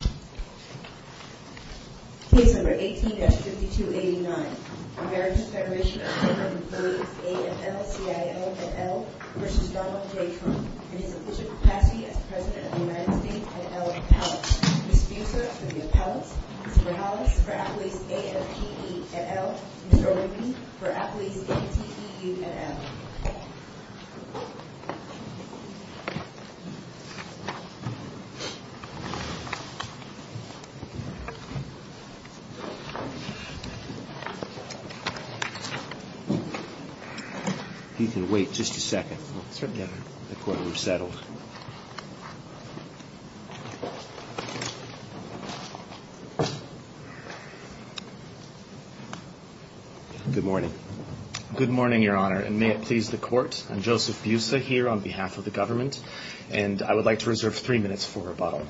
at Elk Palace. Ms. Fusar for the appellants, Mr. Hollis for AFL-CIO at Elk, Mr. O'Ready for AFL-ATE at Elk. Good morning, Your Honor, and may it please the Court, I'm Joseph Busa here on behalf of the government and I would like to reserve three minutes for rebuttal.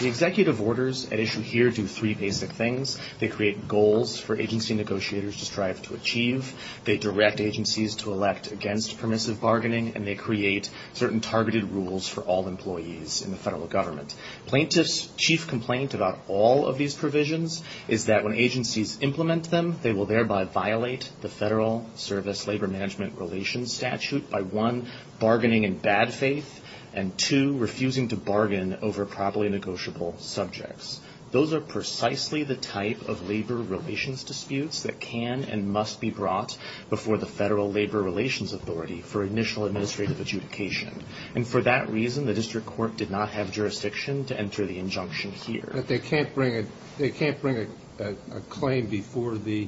The executive orders at issue here do three basic things. They create goals for agency negotiators to strive to achieve. They direct agencies to elect against permissive bargaining and they create certain targeted rules for all employees in the federal government. Plaintiffs' chief complaint about all of these provisions is that when agencies implement them, they will thereby violate the Federal Service Labor Management Relations Statute by, one, bargaining in bad faith and, two, refusing to bargain over properly negotiable subjects. Those are precisely the type of labor relations disputes that can and must be brought before the Federal Labor Relations Authority for initial administrative adjudication. And for that reason, the District Court did not have jurisdiction to enter the injunction here. But they can't bring a claim before the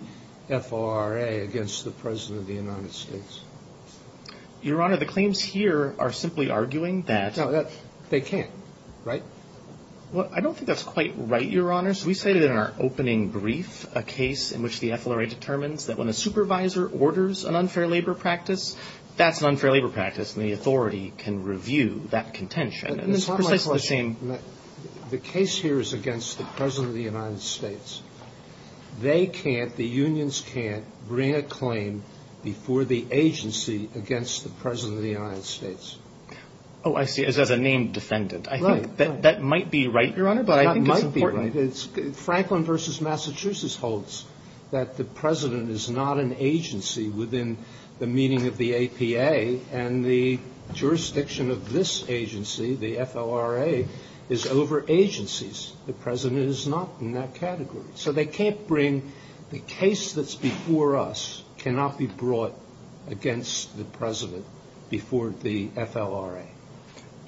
FLRA against the President of the United States? Your Honor, the claims here are simply arguing that They can't, right? Well, I don't think that's quite right, Your Honor. So we say that in our opening brief, a case in which the FLRA determines that when a supervisor orders an unfair labor practice, that's an unfair labor practice and the authority can review that contention. And it's precisely the same The case here is against the President of the United States. They can't, the unions can't bring a claim before the agency against the President of the United States. Oh, I see. It says a named defendant. I think that might be right, Your Honor, but I think it's important It might be right. Franklin v. Massachusetts holds that the President is not an agency within the meaning of the APA and the jurisdiction of this agency, the FLRA, is over agencies. The President is not in that category. So they can't bring, the case that's before us cannot be brought against the President before the FLRA.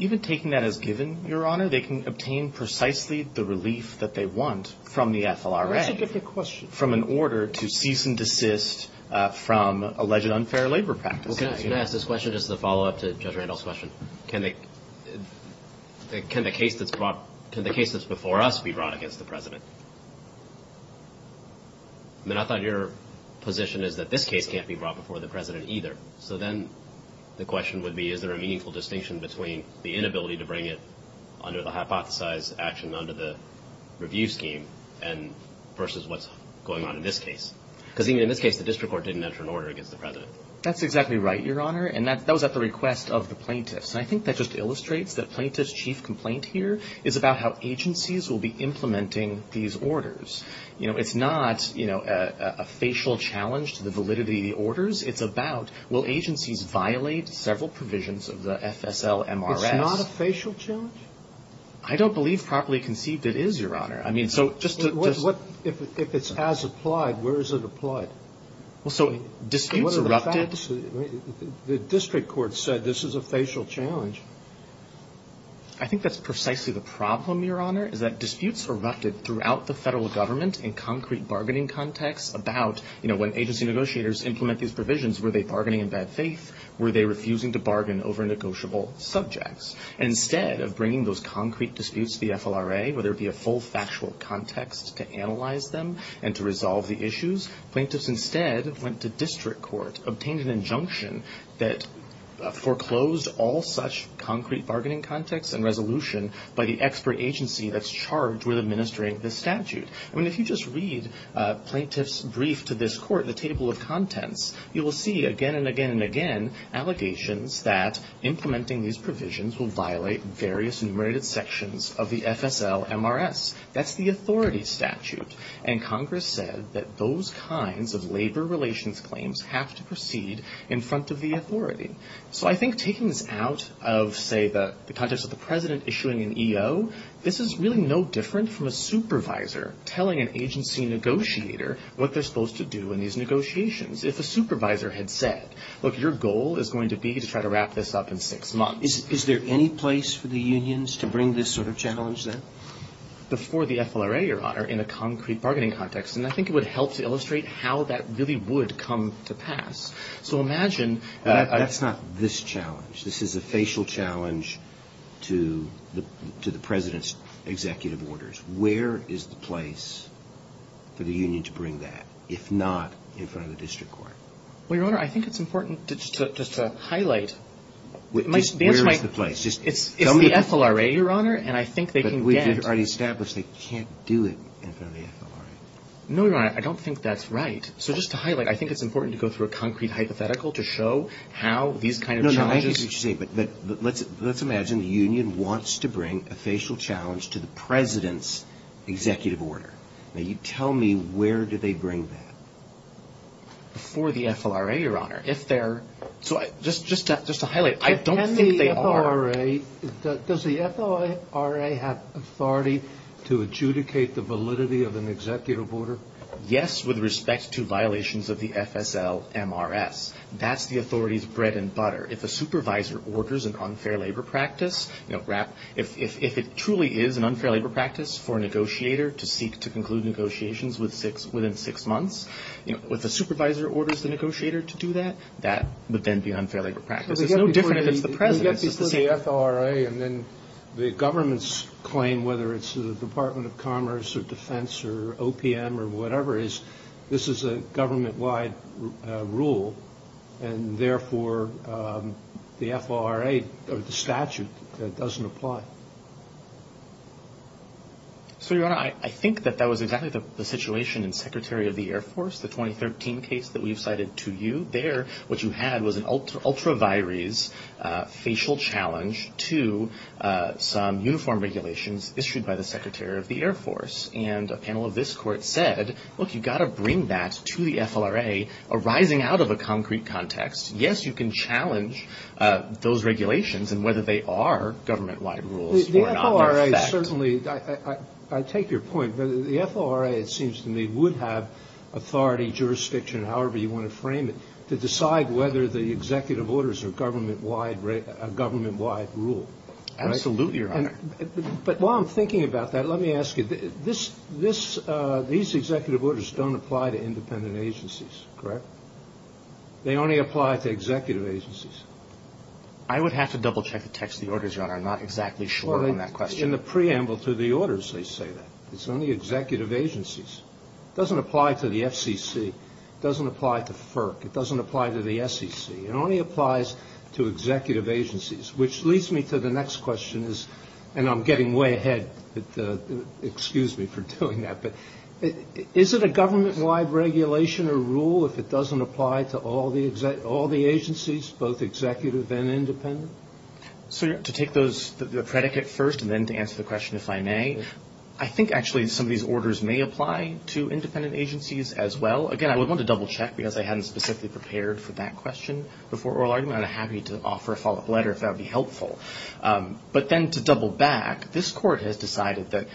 Even taking that as given, Your Honor, they can obtain precisely the relief that they want from the FLRA That's a different question From an order to cease and desist from alleged unfair labor practices Can I ask this question just to follow up to Judge Randall's question? Can the case that's before us be brought against the President? I mean, I thought your position is that this case can't be brought before the President either. So then the question would be, is there a meaningful distinction between the inability to bring it under the hypothesized action under the review scheme versus what's going on in this case? Because even in this case, the district court didn't enter an order against the President. That's exactly right, Your Honor. And that was at the request of the plaintiffs. And I think that just illustrates that plaintiff's chief complaint here is about how agencies will be implementing these orders. You know, it's not, you know, a facial challenge to the validity of the orders. It's about, will agencies violate several provisions of the FSLMRS? It's not a facial challenge? I don't believe properly conceived it is, Your Honor. I mean, so just to If it's as applied, where is it applied? So disputes erupted The district court said this is a facial challenge. I think that's precisely the problem, Your Honor, is that disputes erupted throughout the federal government in concrete bargaining contexts about, you know, when agency negotiators implement these provisions, were they bargaining in bad faith? Were they refusing to bargain over negotiable subjects? Instead of bringing those concrete disputes to the FLRA, where there would be a full factual context to analyze them and to resolve the issues, plaintiffs instead went to district court, obtained an injunction that foreclosed all such concrete bargaining contexts and resolution by the expert agency that's charged with administering this statute. I mean, if you just read plaintiff's brief to this court, the table of contents, you will see again and again and again allegations that implementing these provisions will violate various enumerated sections of the FSLMRS. That's the authority statute. And Congress said that those kinds of labor relations claims have to proceed in front of the authority. So I think taking this out of, say, the context of the President issuing an EO, this is really no different from a supervisor telling an agency negotiator what they're supposed to do in these negotiations. If a supervisor had said, look, your goal is going to be to try to wrap this up in six months. Is there any place for the unions to bring this sort of challenge then? Before the FLRA, Your Honor, in a concrete bargaining context. And I think it would help to illustrate how that really would come to pass. So imagine... That's not this challenge. This is a facial challenge to the President's executive orders. Where is the place for the union to bring that, if not in front of the district court? Well, Your Honor, I think it's important just to highlight... Just where is the place? It's the FLRA, Your Honor, and I think they can get... But we've already established they can't do it in front of the FLRA. No, Your Honor, I don't think that's right. So just to highlight, I think it's important to go through a concrete hypothetical to show how these kind of challenges... No, no, I get what you're saying. But let's imagine the union wants to bring a facial challenge to the President's executive order. Now you tell me where do they bring that? Before the FLRA, Your Honor. If they're... So just to highlight, I don't think they are... Does the FLRA have authority to adjudicate the validity of an executive order? Yes, with respect to violations of the FSL-MRS. That's the authority's bread and butter. If a supervisor orders an unfair labor practice, if it truly is an unfair labor practice for a negotiator to seek to conclude negotiations within six months, if a supervisor orders the negotiator to do that, that would then be unfair labor practice. It's no different if it's the President. But you've got to be clear that it's the FLRA and then the government's claim, whether it's the Department of Commerce or Defense or OPM or whatever, is this is a government-wide rule and therefore the FLRA or the statute doesn't apply. So, Your Honor, I think that that was exactly the situation in Secretary of the Air Force, the 2013 case that we've cited to you. There, what you had was an ultra vires facial challenge to some uniform regulations issued by the Secretary of the Air Force. And a panel of this court said, look, you've got to bring that to the FLRA arising out of a concrete context. Yes, you can challenge those regulations and whether they are government-wide rules or not. The FLRA certainly, I take your point, but the FLRA, it seems to me, would have authority, jurisdiction, however you want to frame it, to decide whether the executive orders are government-wide rules. Absolutely, Your Honor. But while I'm thinking about that, let me ask you, these executive orders don't apply to independent agencies, correct? They only apply to executive agencies. I would have to double check the text of the orders, Your Honor. I'm not exactly sure on that question. In the preamble to the orders, they say that. It's only executive agencies. It doesn't apply to the FCC. It doesn't apply to FERC. It doesn't apply to the SEC. It only applies to executive agencies, which leads me to the next question, and I'm getting way ahead. Excuse me for doing that. But is it a government-wide regulation or rule if it doesn't apply to all the agencies, both executive and independent? So to take the predicate first and then to answer the question if I may, I think actually some of these orders may apply to independent agencies as well. Again, I would want to double check because I hadn't specifically prepared for that question before oral argument. I'm happy to offer a follow-up letter if that would be helpful. But then to double back, this Court has decided that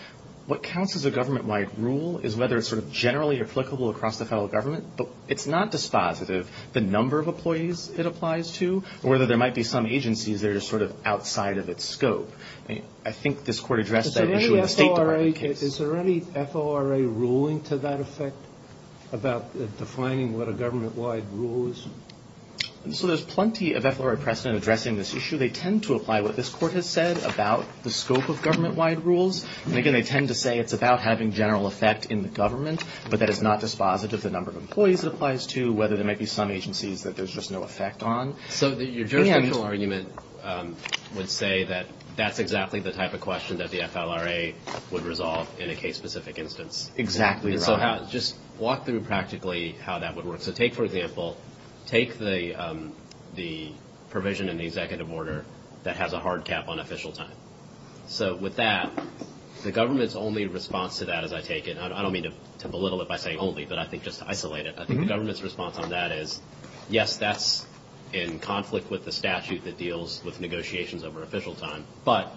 what counts as a government-wide rule is whether it's sort of generally applicable across the federal government, but it's not the number of employees it applies to or whether there might be some agencies that are sort of outside of its scope. I think this Court addressed that issue in the State Department case. Is there any FORA ruling to that effect about defining what a government-wide rule is? So there's plenty of FORA precedent addressing this issue. They tend to apply what this Court has said about the scope of government-wide rules. And again, they tend to say it's about having general effect in the government, but that it's not dispositive of the number of employees it applies to or whether there might be some agencies that there's just no effect on. So your jurisdictional argument would say that that's exactly the type of question that the FLRA would resolve in a case-specific instance. Exactly right. And so just walk through practically how that would work. So take, for example, take the provision in the executive order that has a hard cap on official time. So with that, the government's only response to that, as I take it, and I don't mean to belittle it by saying only, but I think just to isolate it, I think the government's response on that is, yes, that's in conflict with the statute that deals with negotiations over official time, but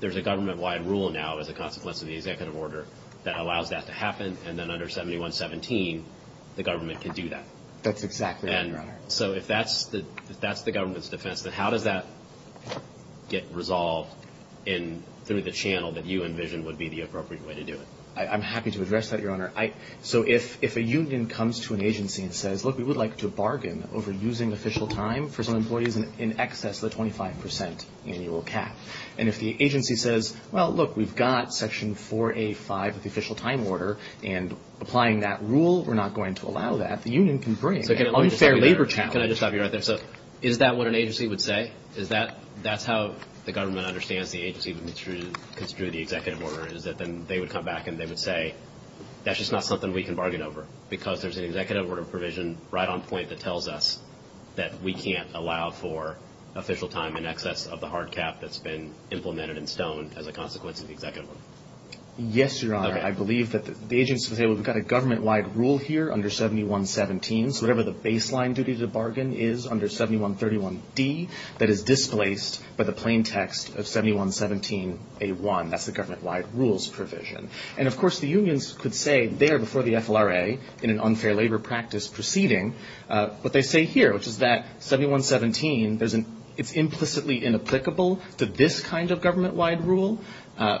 there's a government-wide rule now as a consequence of the executive order that allows that to happen, and then under 7117, the government can do that. That's exactly right, Your Honor. And so if that's the government's defense, then how does that get resolved through the channel that you envision would be the appropriate way to do it? I'm happy to address that, Your Honor. So if a union comes to an agency and says, look, we would like to bargain over using official time for some employees in excess of the 25 percent annual cap, and if the agency says, well, look, we've got Section 4A.5 of the official time order, and applying that rule, we're not going to allow that, the union can bring an unfair labor challenge. Can I just stop you right there? So is that what an agency would say? That's how the government understands the agency would construe the executive order, is that they would come back and they would say, that's just not something we can bargain over, because there's an executive order provision right on point that tells us that we can't allow for official time in excess of the hard cap that's been implemented in stone as a consequence of the executive order. Yes, Your Honor. I believe that the agency would say, well, we've got a government-wide rule here under 7117, so whatever the baseline duty to bargain is under 7131D, that is displaced by the plain text of 7117A1, that's the government-wide rules provision. And, of course, the unions could say there before the FLRA, in an unfair labor practice proceeding, what they say here, which is that 7117, it's implicitly inapplicable to this kind of government-wide rule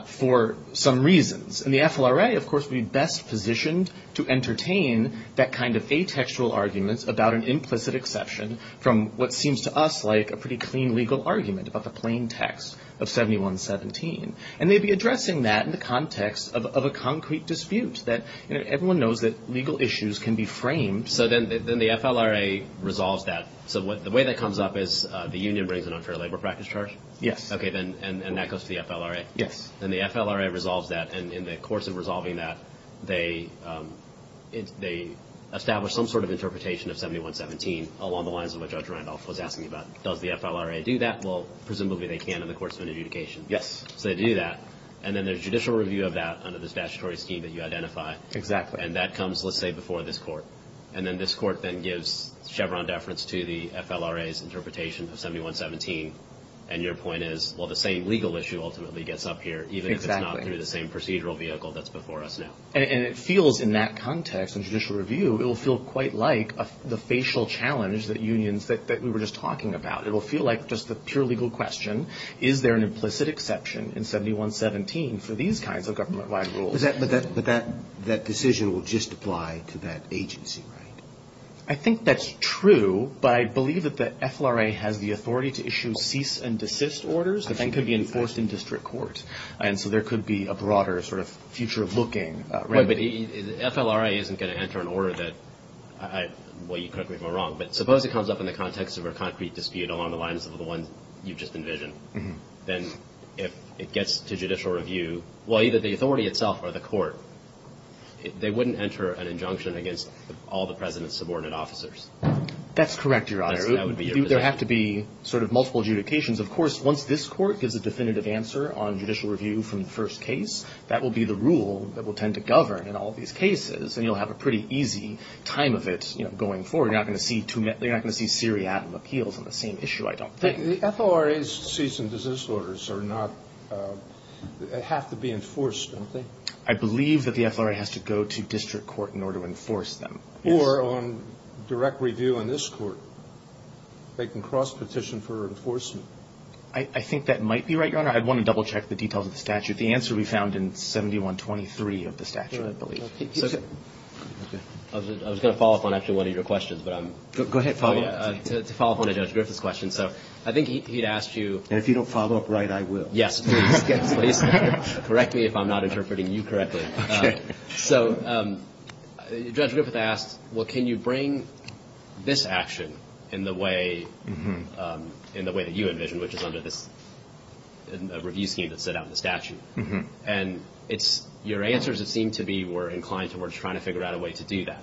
for some reasons. And the FLRA, of course, would be best positioned to entertain that kind of atextual arguments about an implicit exception from what seems to us like a pretty clean legal argument about the plain text of 7117. And they'd be addressing that in the context of a concrete dispute that, you know, everyone knows that legal issues can be framed. So then the FLRA resolves that. So the way that comes up is the union brings an unfair labor practice charge? Yes. Okay. And that goes to the FLRA? Yes. And the FLRA resolves that. And in the course of resolving that, they establish some sort of interpretation of 7117 along the lines of what Judge Randolph was asking about. Does the FLRA do that? Well, presumably they can in the course of an adjudication. Yes. So they do that. And then there's judicial review of that under the statutory scheme that you identify. Exactly. And that comes, let's say, before this Court. And then this Court then gives Chevron deference to the FLRA's interpretation of 7117. And your point is, well, the same legal issue ultimately gets up here, even if it's not through the same procedural vehicle that's before us now. And it feels in that context, in judicial review, it will feel quite like the facial challenge that unions that we were just talking about. It will feel like just the pure legal question, is there an implicit exception in 7117 for these kinds of government-wide rules? But that decision will just apply to that agency, right? I think that's true. But I believe that the FLRA has the authority to issue cease and desist orders. I think that's true. FLRA isn't going to enter an order that, well, you could be wrong. But suppose it comes up in the context of a concrete dispute along the lines of the one you just envisioned. Then if it gets to judicial review, well, either the authority itself or the Court, they wouldn't enter an injunction against all the President's subordinate officers. That's correct, Your Honor. That would be your position. There have to be sort of multiple adjudications. Of course, once this Court gives a definitive answer on judicial review from the first case, that will be the rule that will tend to govern in all these cases. And you'll have a pretty easy time of it going forward. You're not going to see too many – you're not going to see seriatim appeals on the same issue, I don't think. The FLRA's cease and desist orders are not – have to be enforced, don't they? I believe that the FLRA has to go to district court in order to enforce them. Or on direct review in this Court. They can cross-petition for enforcement. I think that might be right, Your Honor. I'd want to double-check the details of the statute. The answer will be found in 7123 of the statute, I believe. Okay. I was going to follow up on actually one of your questions, but I'm – Go ahead. To follow up on Judge Griffith's question. So I think he'd asked you – And if you don't follow up right, I will. Yes, please. Please correct me if I'm not interpreting you correctly. Okay. So Judge Griffith asked, well, can you bring this action in the way that you envisioned, which is under this review scheme that's set out in the statute? And it's – your answers, it seemed to be, were inclined towards trying to figure out a way to do that.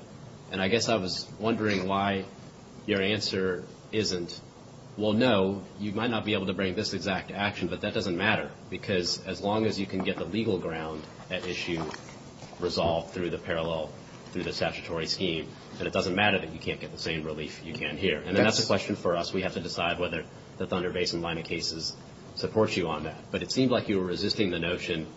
And I guess I was wondering why your answer isn't, well, no, you might not be able to bring this exact action, but that doesn't matter because as long as you can get the legal ground at issue resolved through the parallel, through the statutory scheme, then it doesn't matter that you can't get the same relief you can here. And that's a question for us. We have to decide whether the Thunder Basin line of cases supports you on that. But it seemed like you were resisting the notion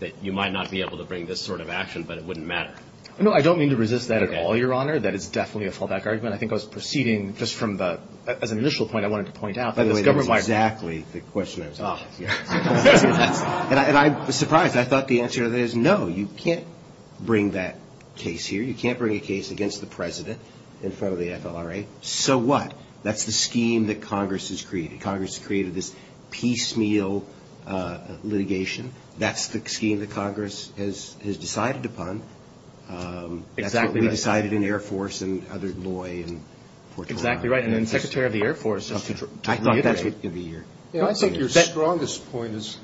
that you might not be able to bring this sort of action, but it wouldn't matter. No, I don't mean to resist that at all, Your Honor. Okay. That is definitely a fallback argument. I think I was proceeding just from the – as an initial point I wanted to point out. By the way, that is exactly the question I was asking. Oh, yes. And I was surprised. I thought the answer to that is, no, you can't bring that case here. You can't bring a case against the President in front of the FLRA. So what? That's the scheme that Congress has created. Congress has created this piecemeal litigation. That's the scheme that Congress has decided upon. Exactly right. That's what we decided in Air Force and other – Loy and – Exactly right. And then Secretary of the Air Force – I thought that was going to be your – I think your strongest point is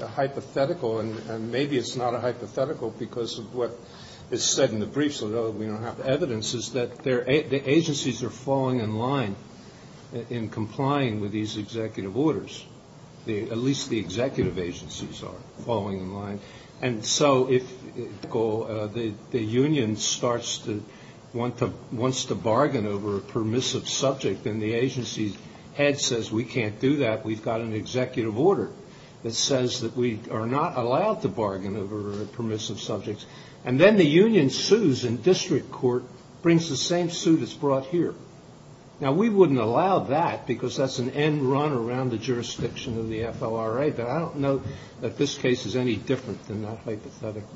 a hypothetical, and maybe it's not a hypothetical because of what is said in the briefs, although we don't have evidence, is that the agencies are falling in line in complying with these executive orders. At least the executive agencies are falling in line. And so if the union starts to – wants to bargain over a permissive subject and the agency's head says we can't do that, we've got an executive order that says that we are not allowed to bargain over permissive subjects, and then the union sues and district court brings the same suit that's brought here. Now, we wouldn't allow that because that's an end run around the jurisdiction of the FLRA, but I don't know that this case is any different than that hypothetical.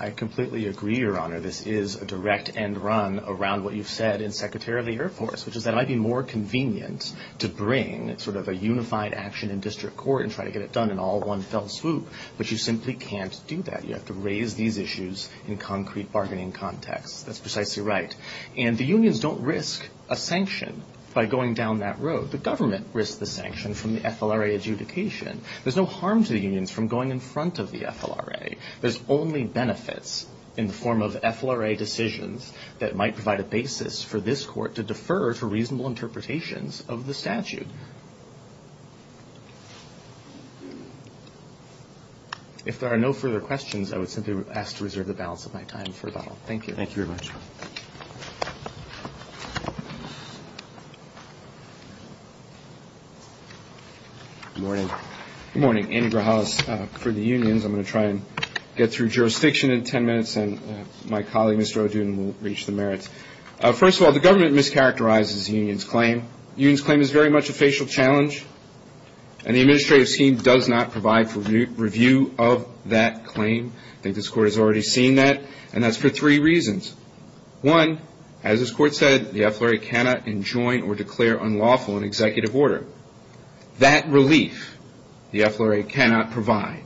I completely agree, Your Honor. This is a direct end run around what you've said in Secretary of the Air Force, which is that it might be more convenient to bring sort of a unified action in district court and try to get it done in all one fell swoop, but you simply can't do that. You have to raise these issues in concrete bargaining contexts. That's precisely right. And the unions don't risk a sanction by going down that road. The government risks the sanction from the FLRA adjudication. There's no harm to the unions from going in front of the FLRA. There's only benefits in the form of FLRA decisions that might provide a basis for this court to defer to reasonable interpretations of the statute. If there are no further questions, I would simply ask to reserve the balance of my time for the hour. Thank you. Thank you very much. Good morning. Good morning. Andrew Grahaus for the unions. I'm going to try and get through jurisdiction in ten minutes, and my colleague, Mr. O'Doonan, will reach the merits. First of all, the government mischaracterizes the union's claim. The union's claim is very much a facial challenge, and the administrative scheme does not provide for review of that claim. I think this court has already seen that, and that's for three reasons. One, as this court said, the FLRA cannot enjoin or declare unlawful an executive order. That relief the FLRA cannot provide.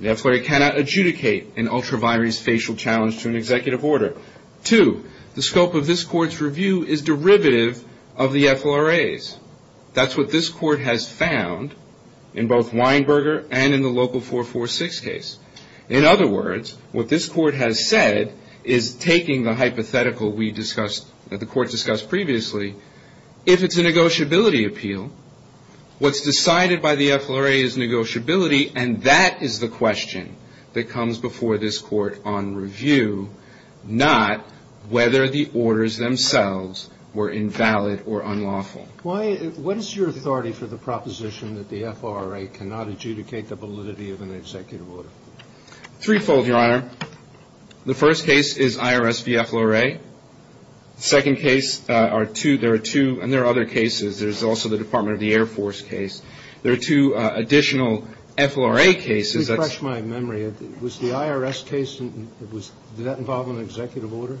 The FLRA cannot adjudicate an ultra-binary's facial challenge to an executive order. Two, the scope of this court's review is derivative of the FLRA's. That's what this court has found in both Weinberger and in the local 446 case. In other words, what this court has said is taking the hypothetical we discussed, that the court discussed previously, if it's a negotiability appeal, what's decided by the FLRA is negotiability, and that is the question that comes before this court on review, not whether the orders themselves were invalid or unlawful. What is your authority for the proposition that the FLRA cannot adjudicate the validity of an executive order? Threefold, Your Honor. The first case is IRS v. FLRA. The second case, there are two, and there are other cases. There's also the Department of the Air Force case. There are two additional FLRA cases. Let me refresh my memory. Was the IRS case, did that involve an executive order?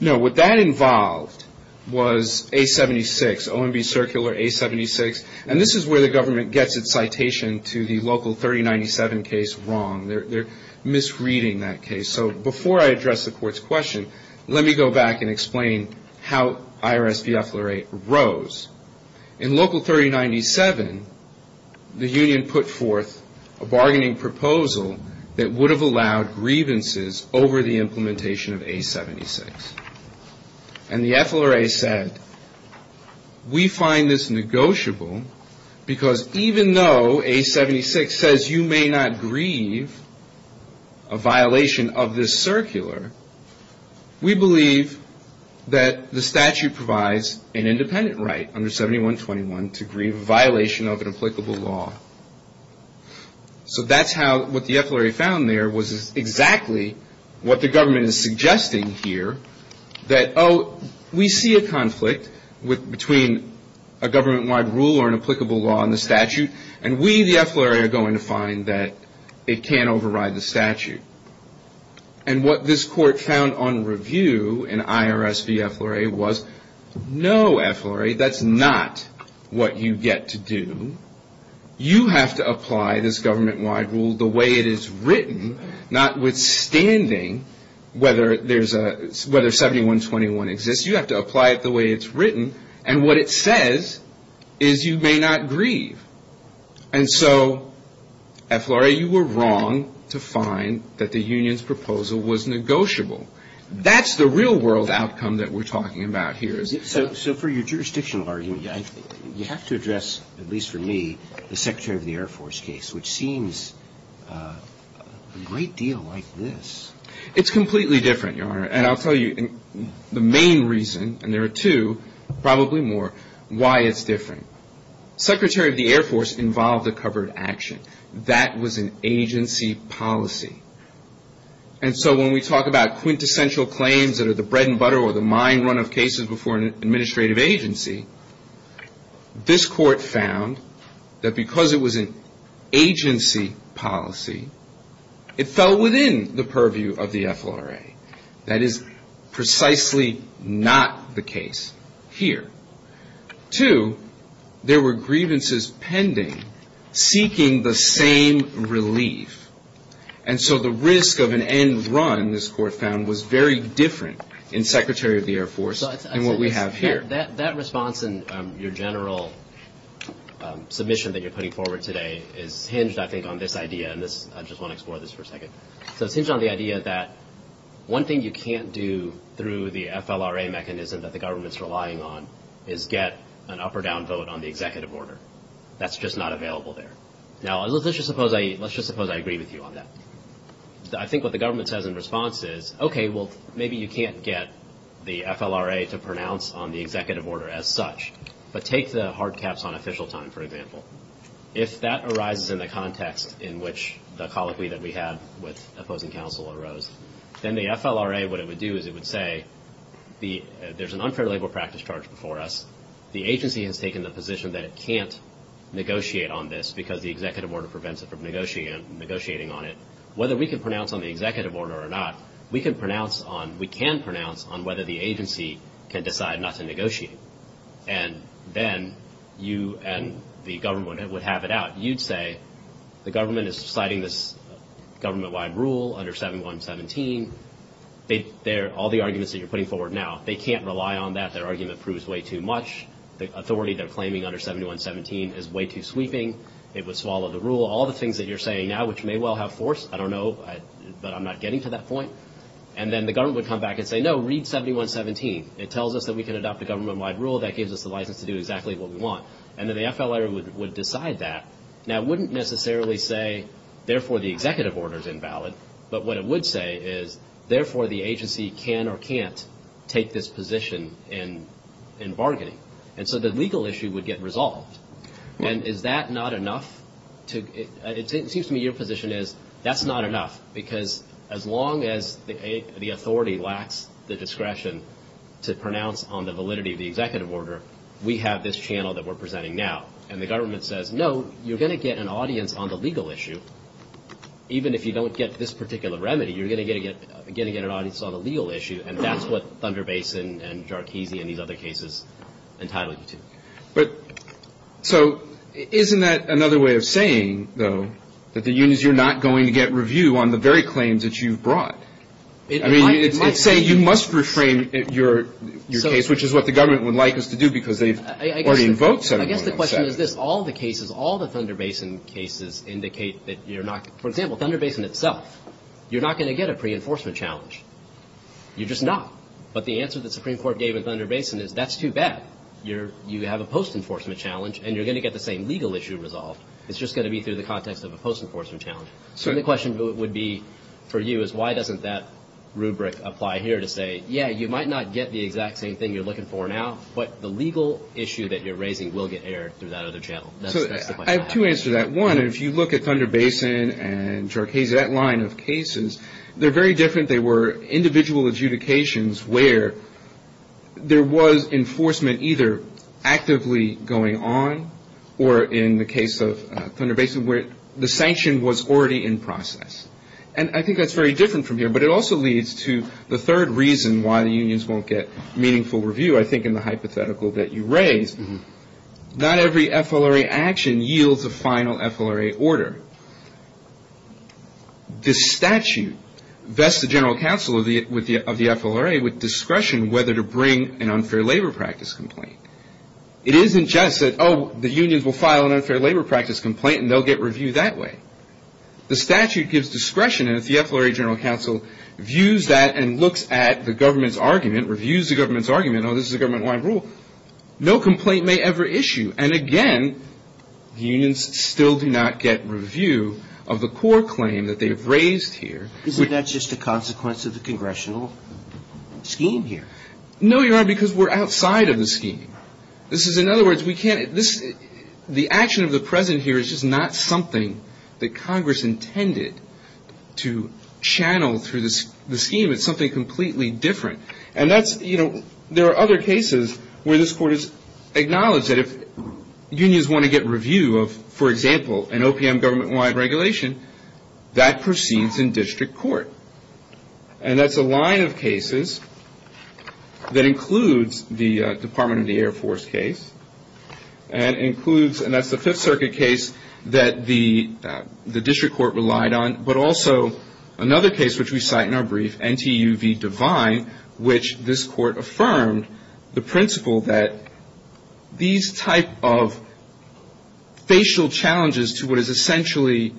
No. What that involved was A-76, OMB Circular A-76, and this is where the government gets its citation to the local 3097 case wrong. They're misreading that case. So before I address the court's question, let me go back and explain how IRS v. FLRA rose. In local 3097, the union put forth a bargaining proposal that would have allowed grievances over the implementation of A-76, and the FLRA said, We find this negotiable because even though A-76 says you may not grieve a violation of this circular, we believe that the statute provides an independent right under 7121 to grieve a violation of an applicable law. So that's how what the FLRA found there was exactly what the government is suggesting here, that, oh, we see a conflict between a government-wide rule or an applicable law and the statute, and we, the FLRA, are going to find that it can't override the statute. And what this court found on review in IRS v. FLRA was no, FLRA, that's not what you get to do. You have to apply this government-wide rule the way it is written, notwithstanding whether 7121 exists. You have to apply it the way it's written, and what it says is you may not grieve. And so, FLRA, you were wrong to find that the union's proposal was negotiable. That's the real-world outcome that we're talking about here. So for your jurisdictional argument, you have to address, at least for me, the Secretary of the Air Force case, which seems a great deal like this. It's completely different, Your Honor. And I'll tell you the main reason, and there are two, probably more, why it's different. Secretary of the Air Force involved a covered action. That was an agency policy. And so when we talk about quintessential claims that are the bread and butter or the mine run of cases before an administrative agency, this Court found that because it was an agency policy, it fell within the purview of the FLRA. That is precisely not the case here. Two, there were grievances pending seeking the same relief. And so the risk of an end run, this Court found, was very different in Secretary of the Air Force than what we have here. That response in your general submission that you're putting forward today is hinged, I think, on this idea. And I just want to explore this for a second. So it's hinged on the idea that one thing you can't do through the FLRA mechanism that the government's relying on is get an up or down vote on the executive order. That's just not available there. Now let's just suppose I agree with you on that. I think what the government says in response is, okay, well, maybe you can't get the FLRA to pronounce on the executive order as such, but take the hard caps on official time, for example. If that arises in the context in which the colloquy that we had with opposing counsel arose, then the FLRA, what it would do is it would say there's an unfair labor practice charge before us. The agency has taken the position that it can't negotiate on this because the executive order prevents it from negotiating on it. Whether we can pronounce on the executive order or not, we can pronounce on whether the agency can decide not to negotiate. And then you and the government would have it out. You'd say the government is citing this government-wide rule under 7117. All the arguments that you're putting forward now, they can't rely on that. Their argument proves way too much. The authority they're claiming under 7117 is way too sweeping. It would swallow the rule. All the things that you're saying now, which may well have force, I don't know, but I'm not getting to that point. And then the government would come back and say, no, read 7117. It tells us that we can adopt a government-wide rule. That gives us the license to do exactly what we want. And then the FLRA would decide that. Now, it wouldn't necessarily say, therefore, the executive order is invalid. But what it would say is, therefore, the agency can or can't take this position in bargaining. And so the legal issue would get resolved. And is that not enough? It seems to me your position is, that's not enough. Because as long as the authority lacks the discretion to pronounce on the validity of the executive order, we have this channel that we're presenting now. And the government says, no, you're going to get an audience on the legal issue. Even if you don't get this particular remedy, you're going to get an audience on the legal issue. And that's what Thunder Basin and Jarkisi and these other cases entitle you to. But so isn't that another way of saying, though, that the unions are not going to get review on the very claims that you've brought? I mean, it might say you must reframe your case, which is what the government would like us to do because they've already invoked 7117. I guess the question is this. All the cases, all the Thunder Basin cases indicate that you're not – for example, Thunder Basin itself, you're not going to get a pre-enforcement challenge. You're just not. But the answer the Supreme Court gave in Thunder Basin is that's too bad. You have a post-enforcement challenge, and you're going to get the same legal issue resolved. It's just going to be through the context of a post-enforcement challenge. So the question would be for you is why doesn't that rubric apply here to say, yeah, you might not get the exact same thing you're looking for now, but the legal issue that you're raising will get aired through that other channel. So I have two answers to that. One, if you look at Thunder Basin and Jarkisi, that line of cases, they're very different. They were individual adjudications where there was enforcement either actively going on or in the case of Thunder Basin where the sanction was already in process. And I think that's very different from here, but it also leads to the third reason why the unions won't get meaningful review. I think in the hypothetical that you raised, not every FLRA action yields a final FLRA order. This statute vests the general counsel of the FLRA with discretion whether to bring an unfair labor practice complaint. It isn't just that, oh, the unions will file an unfair labor practice complaint, and they'll get reviewed that way. The statute gives discretion, and if the FLRA general counsel views that and looks at the government's argument, reviews the government's argument, oh, this is a government-wide rule, no complaint may ever issue. And again, unions still do not get review of the core claim that they've raised here. Isn't that just a consequence of the congressional scheme here? No, Your Honor, because we're outside of the scheme. This is, in other words, we can't – the action of the President here is just not something that Congress intended to channel through the scheme. It's something completely different. And that's – you know, there are other cases where this Court has acknowledged that if unions want to get review of, for example, an OPM government-wide regulation, that proceeds in district court. And that's a line of cases that includes the Department of the Air Force case and includes – and that's the Fifth Circuit case that the district court relied on, but also another case which we cite in our brief, NTU v. Devine, which this Court affirmed the principle that these type of facial challenges to what is essentially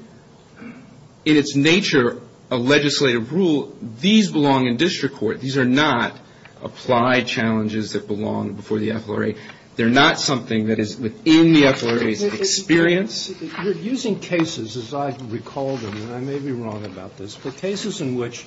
in its nature a legislative rule, these belong in district court. These are not applied challenges that belong before the FLRA. They're not something that is within the FLRA's experience. You're using cases, as I recall them, and I may be wrong about this, but cases in which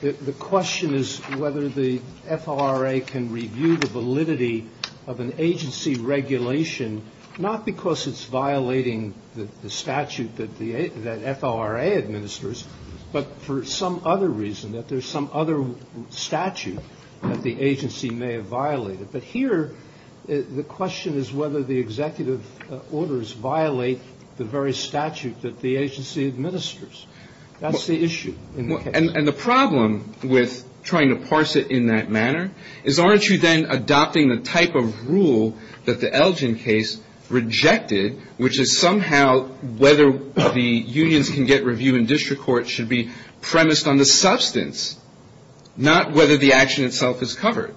the question is whether the FLRA can review the validity of an agency regulation, not because it's violating the statute that the – that FLRA administers, but for some other reason, that there's some other statute that the agency may have violated. But here, the question is whether the executive orders violate the very statute that the agency administers. That's the issue in the case. And the problem with trying to parse it in that manner is, aren't you then adopting the type of rule that the Elgin case rejected, which is somehow whether the unions can get review in district court should be premised on the substance, not whether the action itself is covered?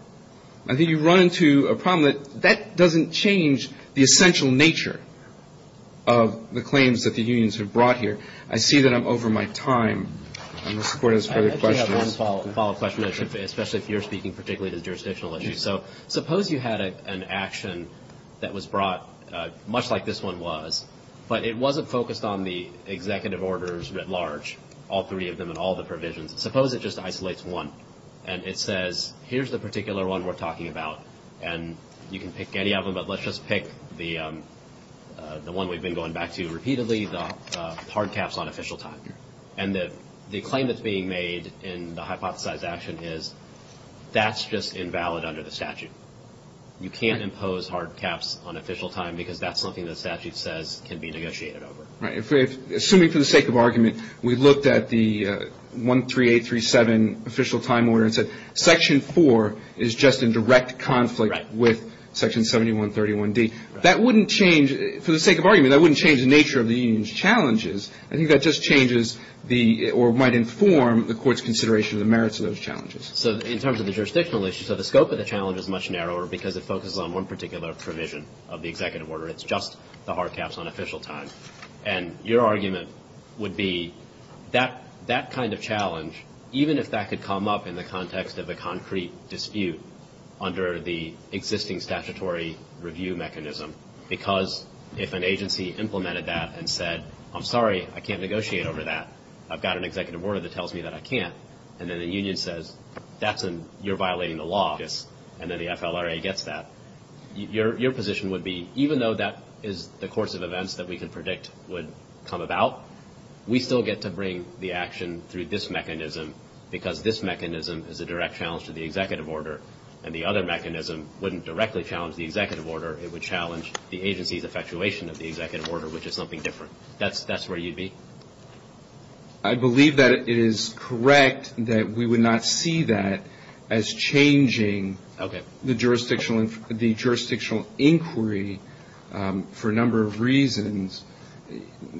I think you run into a problem that that doesn't change the essential nature of the claims that the unions have brought here. I see that I'm over my time. I'm going to support those further questions. I actually have one follow-up question, especially if you're speaking particularly to jurisdictional issues. So suppose you had an action that was brought, much like this one was, but it wasn't focused on the executive orders writ large, all three of them and all the provisions. Suppose it just isolates one and it says, here's the particular one we're talking about, and you can pick any of them, but let's just pick the one we've been going back to repeatedly, the hard caps on official time. And the claim that's being made in the hypothesized action is that's just invalid under the statute. You can't impose hard caps on official time because that's something the statute says can be negotiated over. Right. Assuming for the sake of argument we looked at the 13837 official time order and said section 4 is just in direct conflict with section 7131D, that wouldn't change, for the sake of argument, that wouldn't change the nature of the union's challenges. I think that just changes the or might inform the court's consideration of the merits of those challenges. So in terms of the jurisdictional issue, so the scope of the challenge is much narrower because it focuses on one particular provision of the executive order. It's just the hard caps on official time. And your argument would be that that kind of challenge, even if that could come up in the context of a concrete dispute under the existing statutory review mechanism, because if an agency implemented that and said, I'm sorry, I can't negotiate over that, I've got an executive order that tells me that I can't, and then the union says, that's a, you're violating the law, and then the FLRA gets that. Your position would be, even though that is the course of events that we could predict would come about, we still get to bring the action through this mechanism because this mechanism is a direct challenge to the executive order, and the other mechanism wouldn't directly challenge the executive order. It would challenge the agency's effectuation of the executive order, which is something different. That's where you'd be? I believe that it is correct that we would not see that as changing the jurisdictional inquiry for a number of reasons.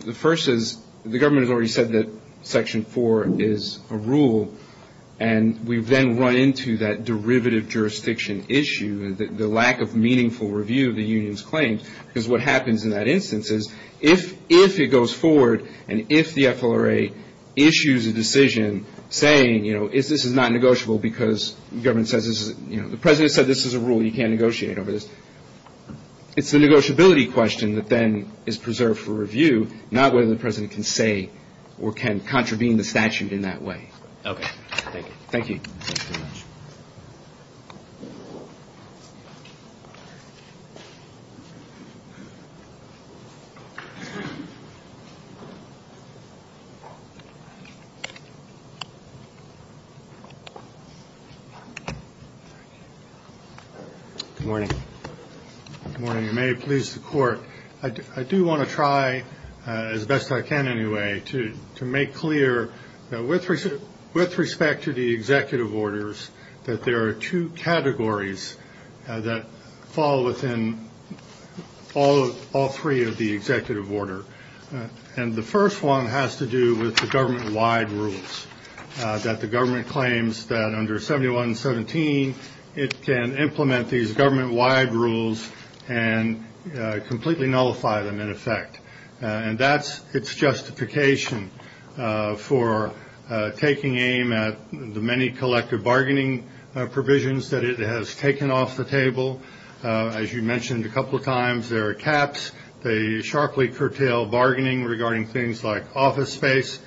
The first is the government has already said that Section 4 is a rule, and we've then run into that derivative jurisdiction issue, the lack of meaningful review of the union's claims, because what happens in that instance is if it goes forward and if the FLRA issues a decision saying, you know, this is not negotiable because the government says this is, you know, the president said this is a rule, you can't negotiate over this, it's the negotiability question that then is preserved for review, not whether the president can say or can contravene the statute in that way. Okay. Thank you. Thank you very much. Good morning. Good morning. You may please the court. I do want to try, as best I can anyway, to make clear that with respect to the executive orders, that there are two categories that fall within all three of the executive order. And the first one has to do with the government-wide rules, that the government claims that under 7117 it can implement these government-wide rules and completely nullify them in effect. And that's its justification for taking aim at the many collective bargaining provisions that it has taken off the table. As you mentioned a couple of times, there are caps. They sharply curtail bargaining regarding things like office space.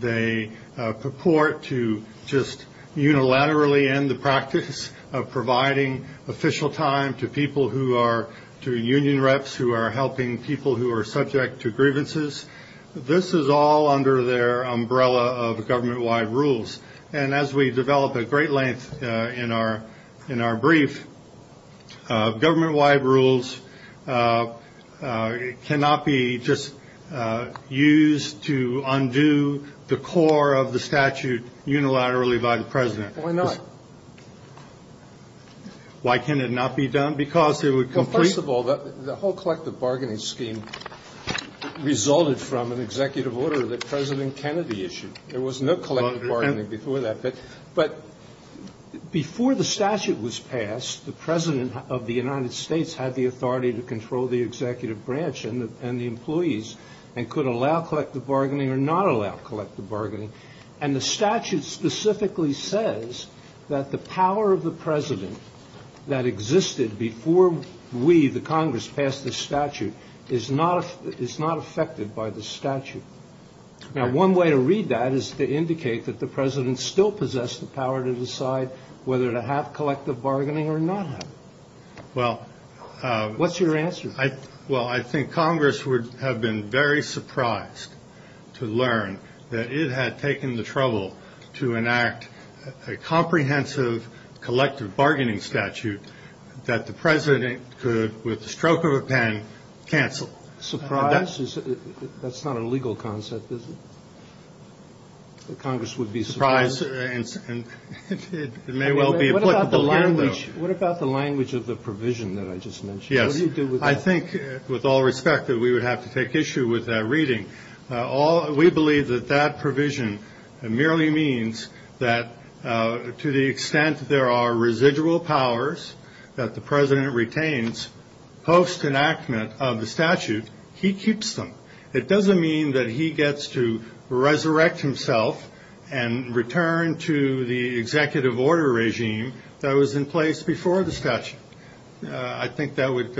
They purport to just unilaterally end the practice of providing official time to people who are union reps who are helping people who are subject to grievances. This is all under their umbrella of government-wide rules. And as we develop at great length in our brief, government-wide rules cannot be just used to undo the core of the statute unilaterally by the president. Why not? Why can it not be done? Because it would complete. Well, first of all, the whole collective bargaining scheme resulted from an executive order that President Kennedy issued. There was no collective bargaining before that. But before the statute was passed, the president of the United States had the authority to control the executive branch and the employees and could allow collective bargaining or not allow collective bargaining. And the statute specifically says that the power of the president that existed before we, the Congress, passed the statute is not affected by the statute. Now, one way to read that is to indicate that the president still possessed the power to decide whether to have collective bargaining or not. Well, what's your answer? Well, I think Congress would have been very surprised to learn that it had taken the trouble to enact a comprehensive collective bargaining statute that the president could, with the stroke of a pen, cancel. Surprise? That's not a legal concept, is it? That Congress would be surprised? Surprise. It may well be applicable here, though. What about the language of the provision that I just mentioned? Yes. What do you do with that? I think, with all respect, that we would have to take issue with that reading. We believe that that provision merely means that to the extent there are residual powers that the president retains, post-enactment of the statute, he keeps them. It doesn't mean that he gets to resurrect himself and return to the executive order regime that was in place before the statute. I think that would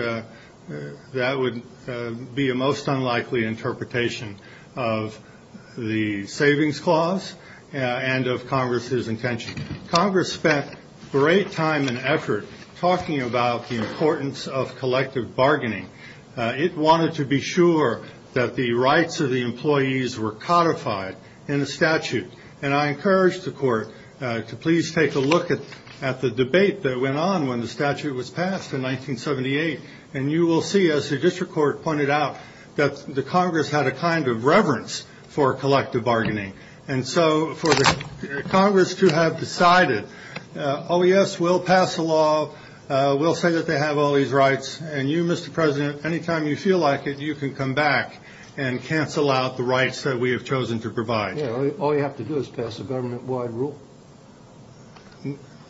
be a most unlikely interpretation of the savings clause and of Congress's intention. Congress spent great time and effort talking about the importance of collective bargaining. It wanted to be sure that the rights of the employees were codified in the statute, and I encouraged the court to please take a look at the debate that went on when the statute was passed in 1978, and you will see, as the district court pointed out, that the Congress had a kind of reverence for collective bargaining. And so for Congress to have decided, oh, yes, we'll pass a law, we'll say that they have all these rights, and you, Mr. President, any time you feel like it, you can come back and cancel out the rights that we have chosen to provide. All you have to do is pass a government-wide rule.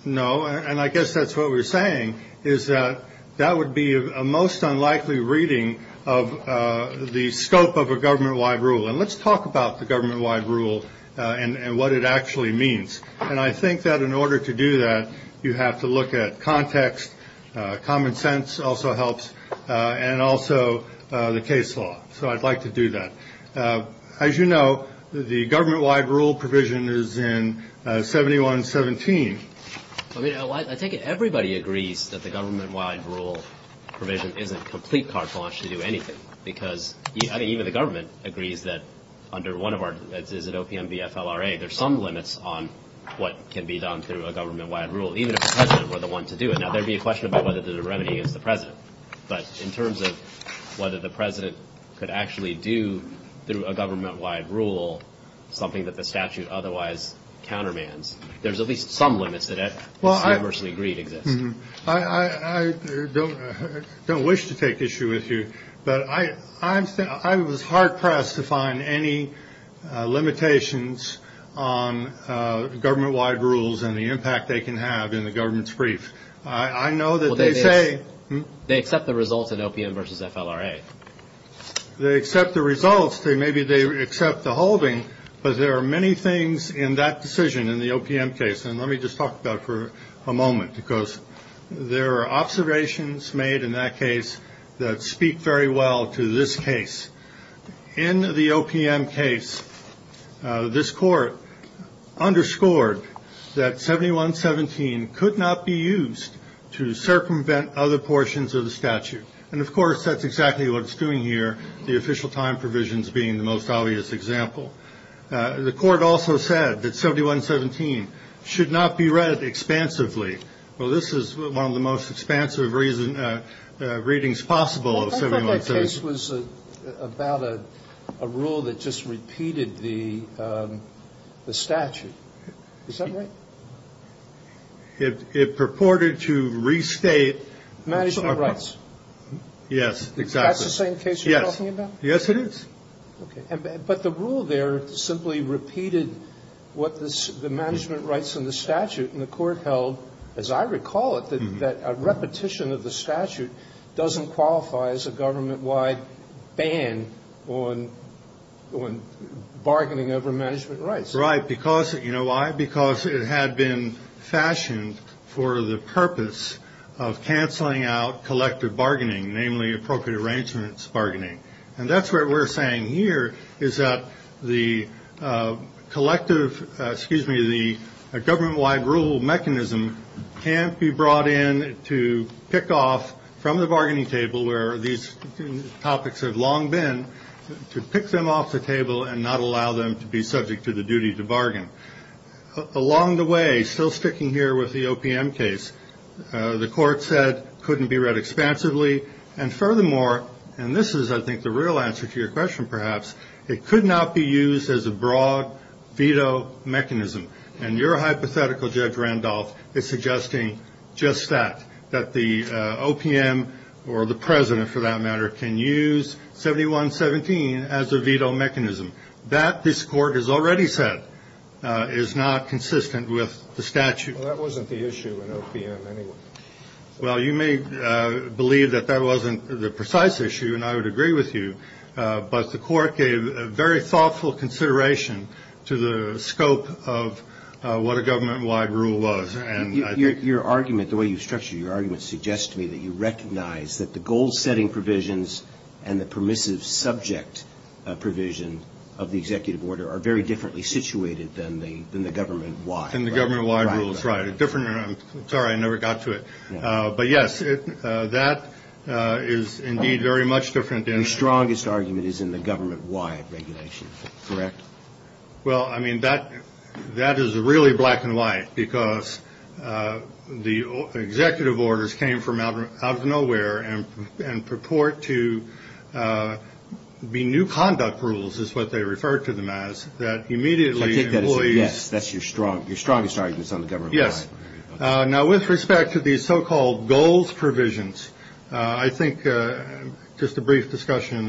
No, and I guess that's what we're saying is that that would be a most unlikely reading of the scope of a government-wide rule. And let's talk about the government-wide rule and what it actually means. And I think that in order to do that, you have to look at context. Common sense also helps, and also the case law. So I'd like to do that. As you know, the government-wide rule provision is in 7117. I mean, I take it everybody agrees that the government-wide rule provision isn't complete carte blanche to do anything, because I think even the government agrees that under one of our, is it OPM v. FLRA, there's some limits on what can be done through a government-wide rule, even if the president were the one to do it. Now, there would be a question about whether there's a remedy against the president. But in terms of whether the president could actually do, through a government-wide rule, something that the statute otherwise countermands, there's at least some limits that, universally agreed, exist. I don't wish to take issue with you, but I was hard-pressed to find any limitations on government-wide rules and the impact they can have in the government's brief. I know that they say they accept the results at OPM v. FLRA. They accept the results. Maybe they accept the holding, but there are many things in that decision in the OPM case, and let me just talk about it for a moment, because there are observations made in that case that speak very well to this case. In the OPM case, this court underscored that 7117 could not be used to circumvent other portions of the statute. And, of course, that's exactly what it's doing here, the official time provisions being the most obvious example. The court also said that 7117 should not be read expansively. Well, this is one of the most expansive readings possible of 7117. I thought that case was about a rule that just repeated the statute. Is that right? It purported to restate. Management rights. Yes, exactly. That's the same case you're talking about? Yes, it is. Okay. But the rule there simply repeated what the management rights and the statute and the court held, as I recall it, that a repetition of the statute doesn't qualify as a government-wide ban on bargaining over management rights. Right. You know why? Because it had been fashioned for the purpose of canceling out collective bargaining, namely appropriate arrangements bargaining. And that's what we're saying here is that the collective, excuse me, the government-wide rule mechanism can't be brought in to pick off from the bargaining table where these topics have long been, to pick them off the table and not allow them to be subject to the duty to bargain. Along the way, still sticking here with the OPM case, the court said couldn't be read expansively. And furthermore, and this is, I think, the real answer to your question perhaps, it could not be used as a broad veto mechanism. And your hypothetical, Judge Randolph, is suggesting just that, that the OPM or the president, for that matter, can use 7117 as a veto mechanism. That, this court has already said, is not consistent with the statute. Well, that wasn't the issue in OPM anyway. Well, you may believe that that wasn't the precise issue, and I would agree with you. But the court gave very thoughtful consideration to the scope of what a government-wide rule was. Your argument, the way you've structured your argument, suggests to me that you recognize that the goal-setting provisions and the permissive subject provision of the executive order are very differently situated than the government-wide. That's right. Sorry, I never got to it. But, yes, that is indeed very much different. Your strongest argument is in the government-wide regulations, correct? Well, I mean, that is really black and white because the executive orders came from out of nowhere and purport to be new conduct rules is what they referred to them as, that immediately employees. Yes, that's your strongest argument is on the government-wide. Yes. Now, with respect to these so-called goals provisions, I think just a brief discussion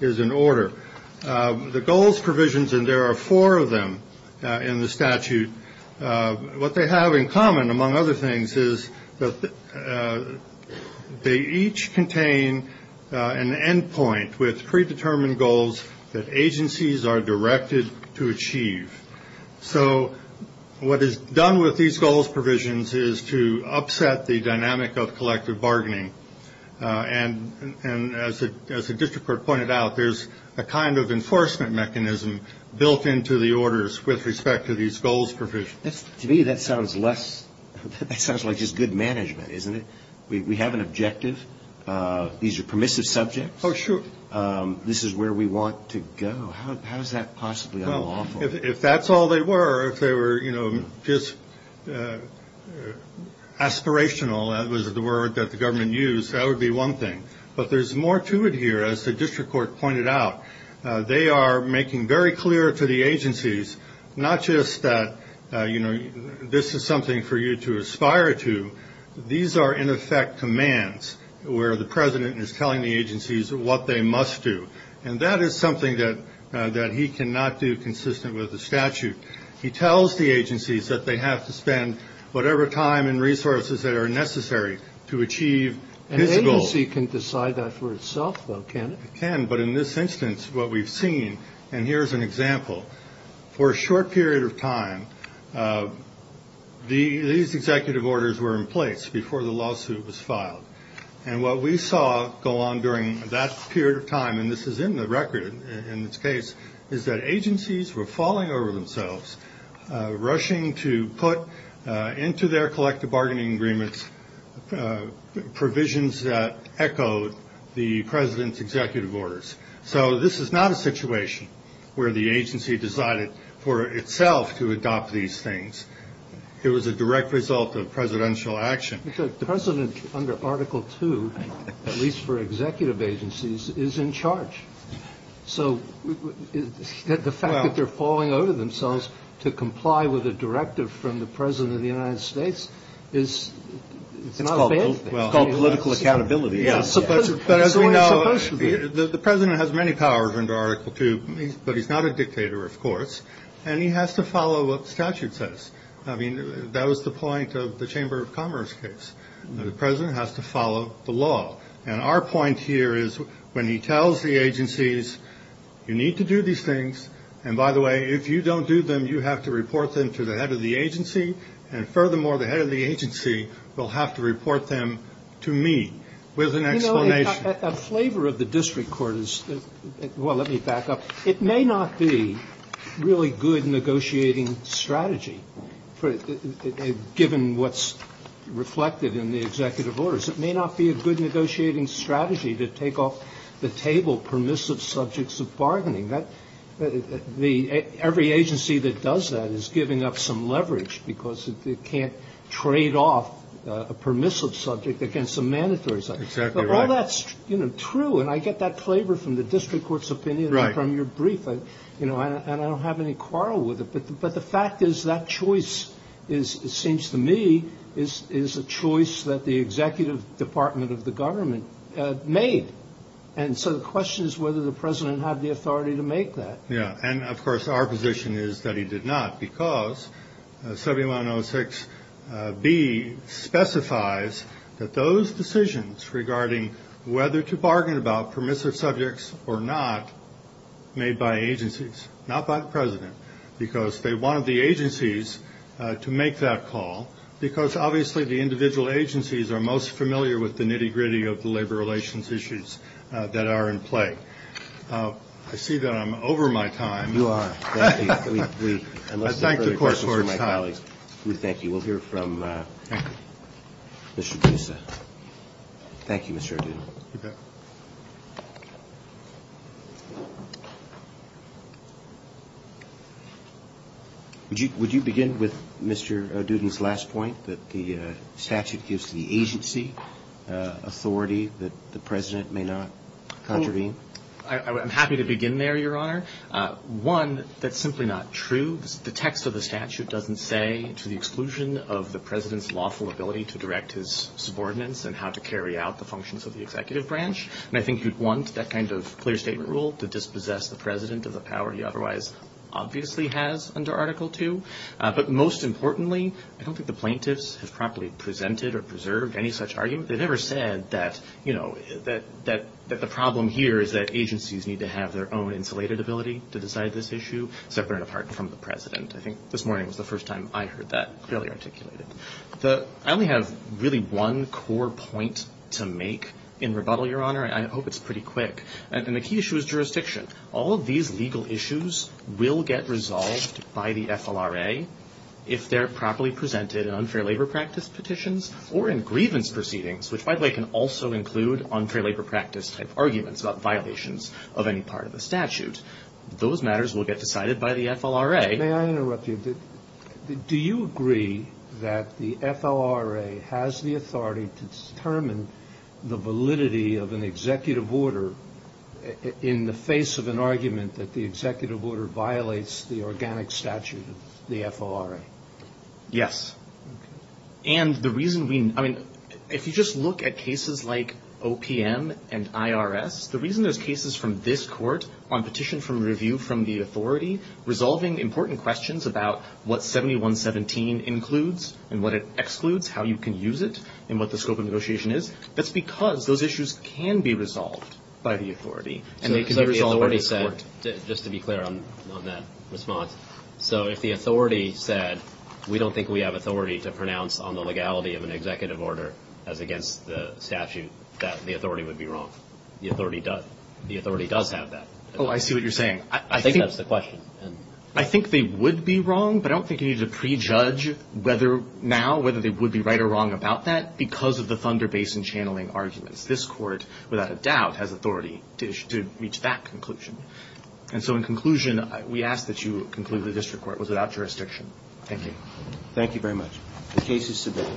is in order. The goals provisions, and there are four of them in the statute, what they have in common, among other things, is that they each contain an endpoint with predetermined goals that agencies are directed to achieve. So what is done with these goals provisions is to upset the dynamic of collective bargaining. And as the district court pointed out, there's a kind of enforcement mechanism built into the orders with respect to these goals provisions. To me, that sounds like just good management, isn't it? We have an objective. These are permissive subjects. Oh, sure. This is where we want to go. How is that possibly unlawful? Well, if that's all they were, if they were, you know, just aspirational, that was the word that the government used, that would be one thing. But there's more to it here, as the district court pointed out. They are making very clear to the agencies not just that, you know, this is something for you to aspire to. These are, in effect, commands where the president is telling the agencies what they must do. And that is something that he cannot do consistent with the statute. He tells the agencies that they have to spend whatever time and resources that are necessary to achieve his goals. An agency can decide that for itself, though, can't it? It can, but in this instance, what we've seen, and here's an example, for a short period of time, these executive orders were in place before the lawsuit was filed. And what we saw go on during that period of time, and this is in the record in this case, is that agencies were falling over themselves, rushing to put into their collective bargaining agreements provisions that echoed the president's executive orders. So this is not a situation where the agency decided for itself to adopt these things. It was a direct result of presidential action. The president, under Article II, at least for executive agencies, is in charge. So the fact that they're falling over themselves to comply with a directive from the president of the United States is not a bad thing. It's called political accountability. But as we know, the president has many powers under Article II, but he's not a dictator, of course, and he has to follow what the statute says. I mean, that was the point of the Chamber of Commerce case. The president has to follow the law. And our point here is when he tells the agencies, you need to do these things, and by the way, if you don't do them, you have to report them to the head of the agency, and furthermore, the head of the agency will have to report them to me with an explanation. You know, a flavor of the district court is, well, let me back up. It may not be really good negotiating strategy, given what's reflected in the executive orders. It may not be a good negotiating strategy to take off the table permissive subjects of bargaining. Every agency that does that is giving up some leverage because it can't trade off a permissive subject against a mandatory subject. But while that's true, and I get that flavor from the district court's opinion and from your brief, and I don't have any quarrel with it, but the fact is that choice, it seems to me, is a choice that the executive department of the government made. And so the question is whether the president had the authority to make that. Yeah. And, of course, our position is that he did not because 7106B specifies that those decisions regarding whether to bargain about permissive subjects or not made by agencies, not by the president, because they wanted the agencies to make that call because, obviously, the individual agencies are most familiar with the nitty-gritty of the labor relations issues that are in play. I see that I'm over my time. You are. I thank the court for its time. We thank you. We'll hear from Mr. Boussa. Thank you, Mr. Ardudin. You bet. Would you begin with Mr. Ardudin's last point, that the statute gives the agency authority that the president may not contravene? I'm happy to begin there, Your Honor. One, that's simply not true. The text of the statute doesn't say, to the exclusion of the president's lawful ability to direct his subordinates and how to carry out the functions of the executive branch. And I think you'd want that kind of clear statement rule to dispossess the president of the power he otherwise obviously has under Article II. But most importantly, I don't think the plaintiffs have properly presented or preserved any such argument. They've never said that, you know, that the problem here is that agencies need to have their own insulated ability to decide this issue, separate and apart from the president. I think this morning was the first time I heard that clearly articulated. I only have really one core point to make in rebuttal, Your Honor. I hope it's pretty quick. And the key issue is jurisdiction. All of these legal issues will get resolved by the FLRA if they're properly presented in unfair labor practice petitions or in grievance proceedings, which, by the way, can also include unfair labor practice-type arguments about violations of any part of the statute. Those matters will get decided by the FLRA. May I interrupt you? Do you agree that the FLRA has the authority to determine the validity of an executive order in the face of an argument that the executive order violates the organic statute of the FLRA? Yes. And the reason we – I mean, if you just look at cases like OPM and IRS, the reason there's cases from this court on petition from review from the authority resolving important questions about what 7117 includes and what it excludes, how you can use it, and what the scope of negotiation is, that's because those issues can be resolved by the authority. And they can be resolved by the court. So if the authority said – just to be clear on that response – so if the authority said we don't think we have authority to pronounce on the legality of an executive order as against the statute, that the authority would be wrong. The authority does have that. Oh, I see what you're saying. I think that's the question. I think they would be wrong, but I don't think you need to prejudge whether – now whether they would be right or wrong about that because of the Thunder Basin channeling arguments. This court, without a doubt, has authority to reach that conclusion. And so in conclusion, we ask that you conclude the district court was without jurisdiction. Thank you. Thank you very much. The case is submitted.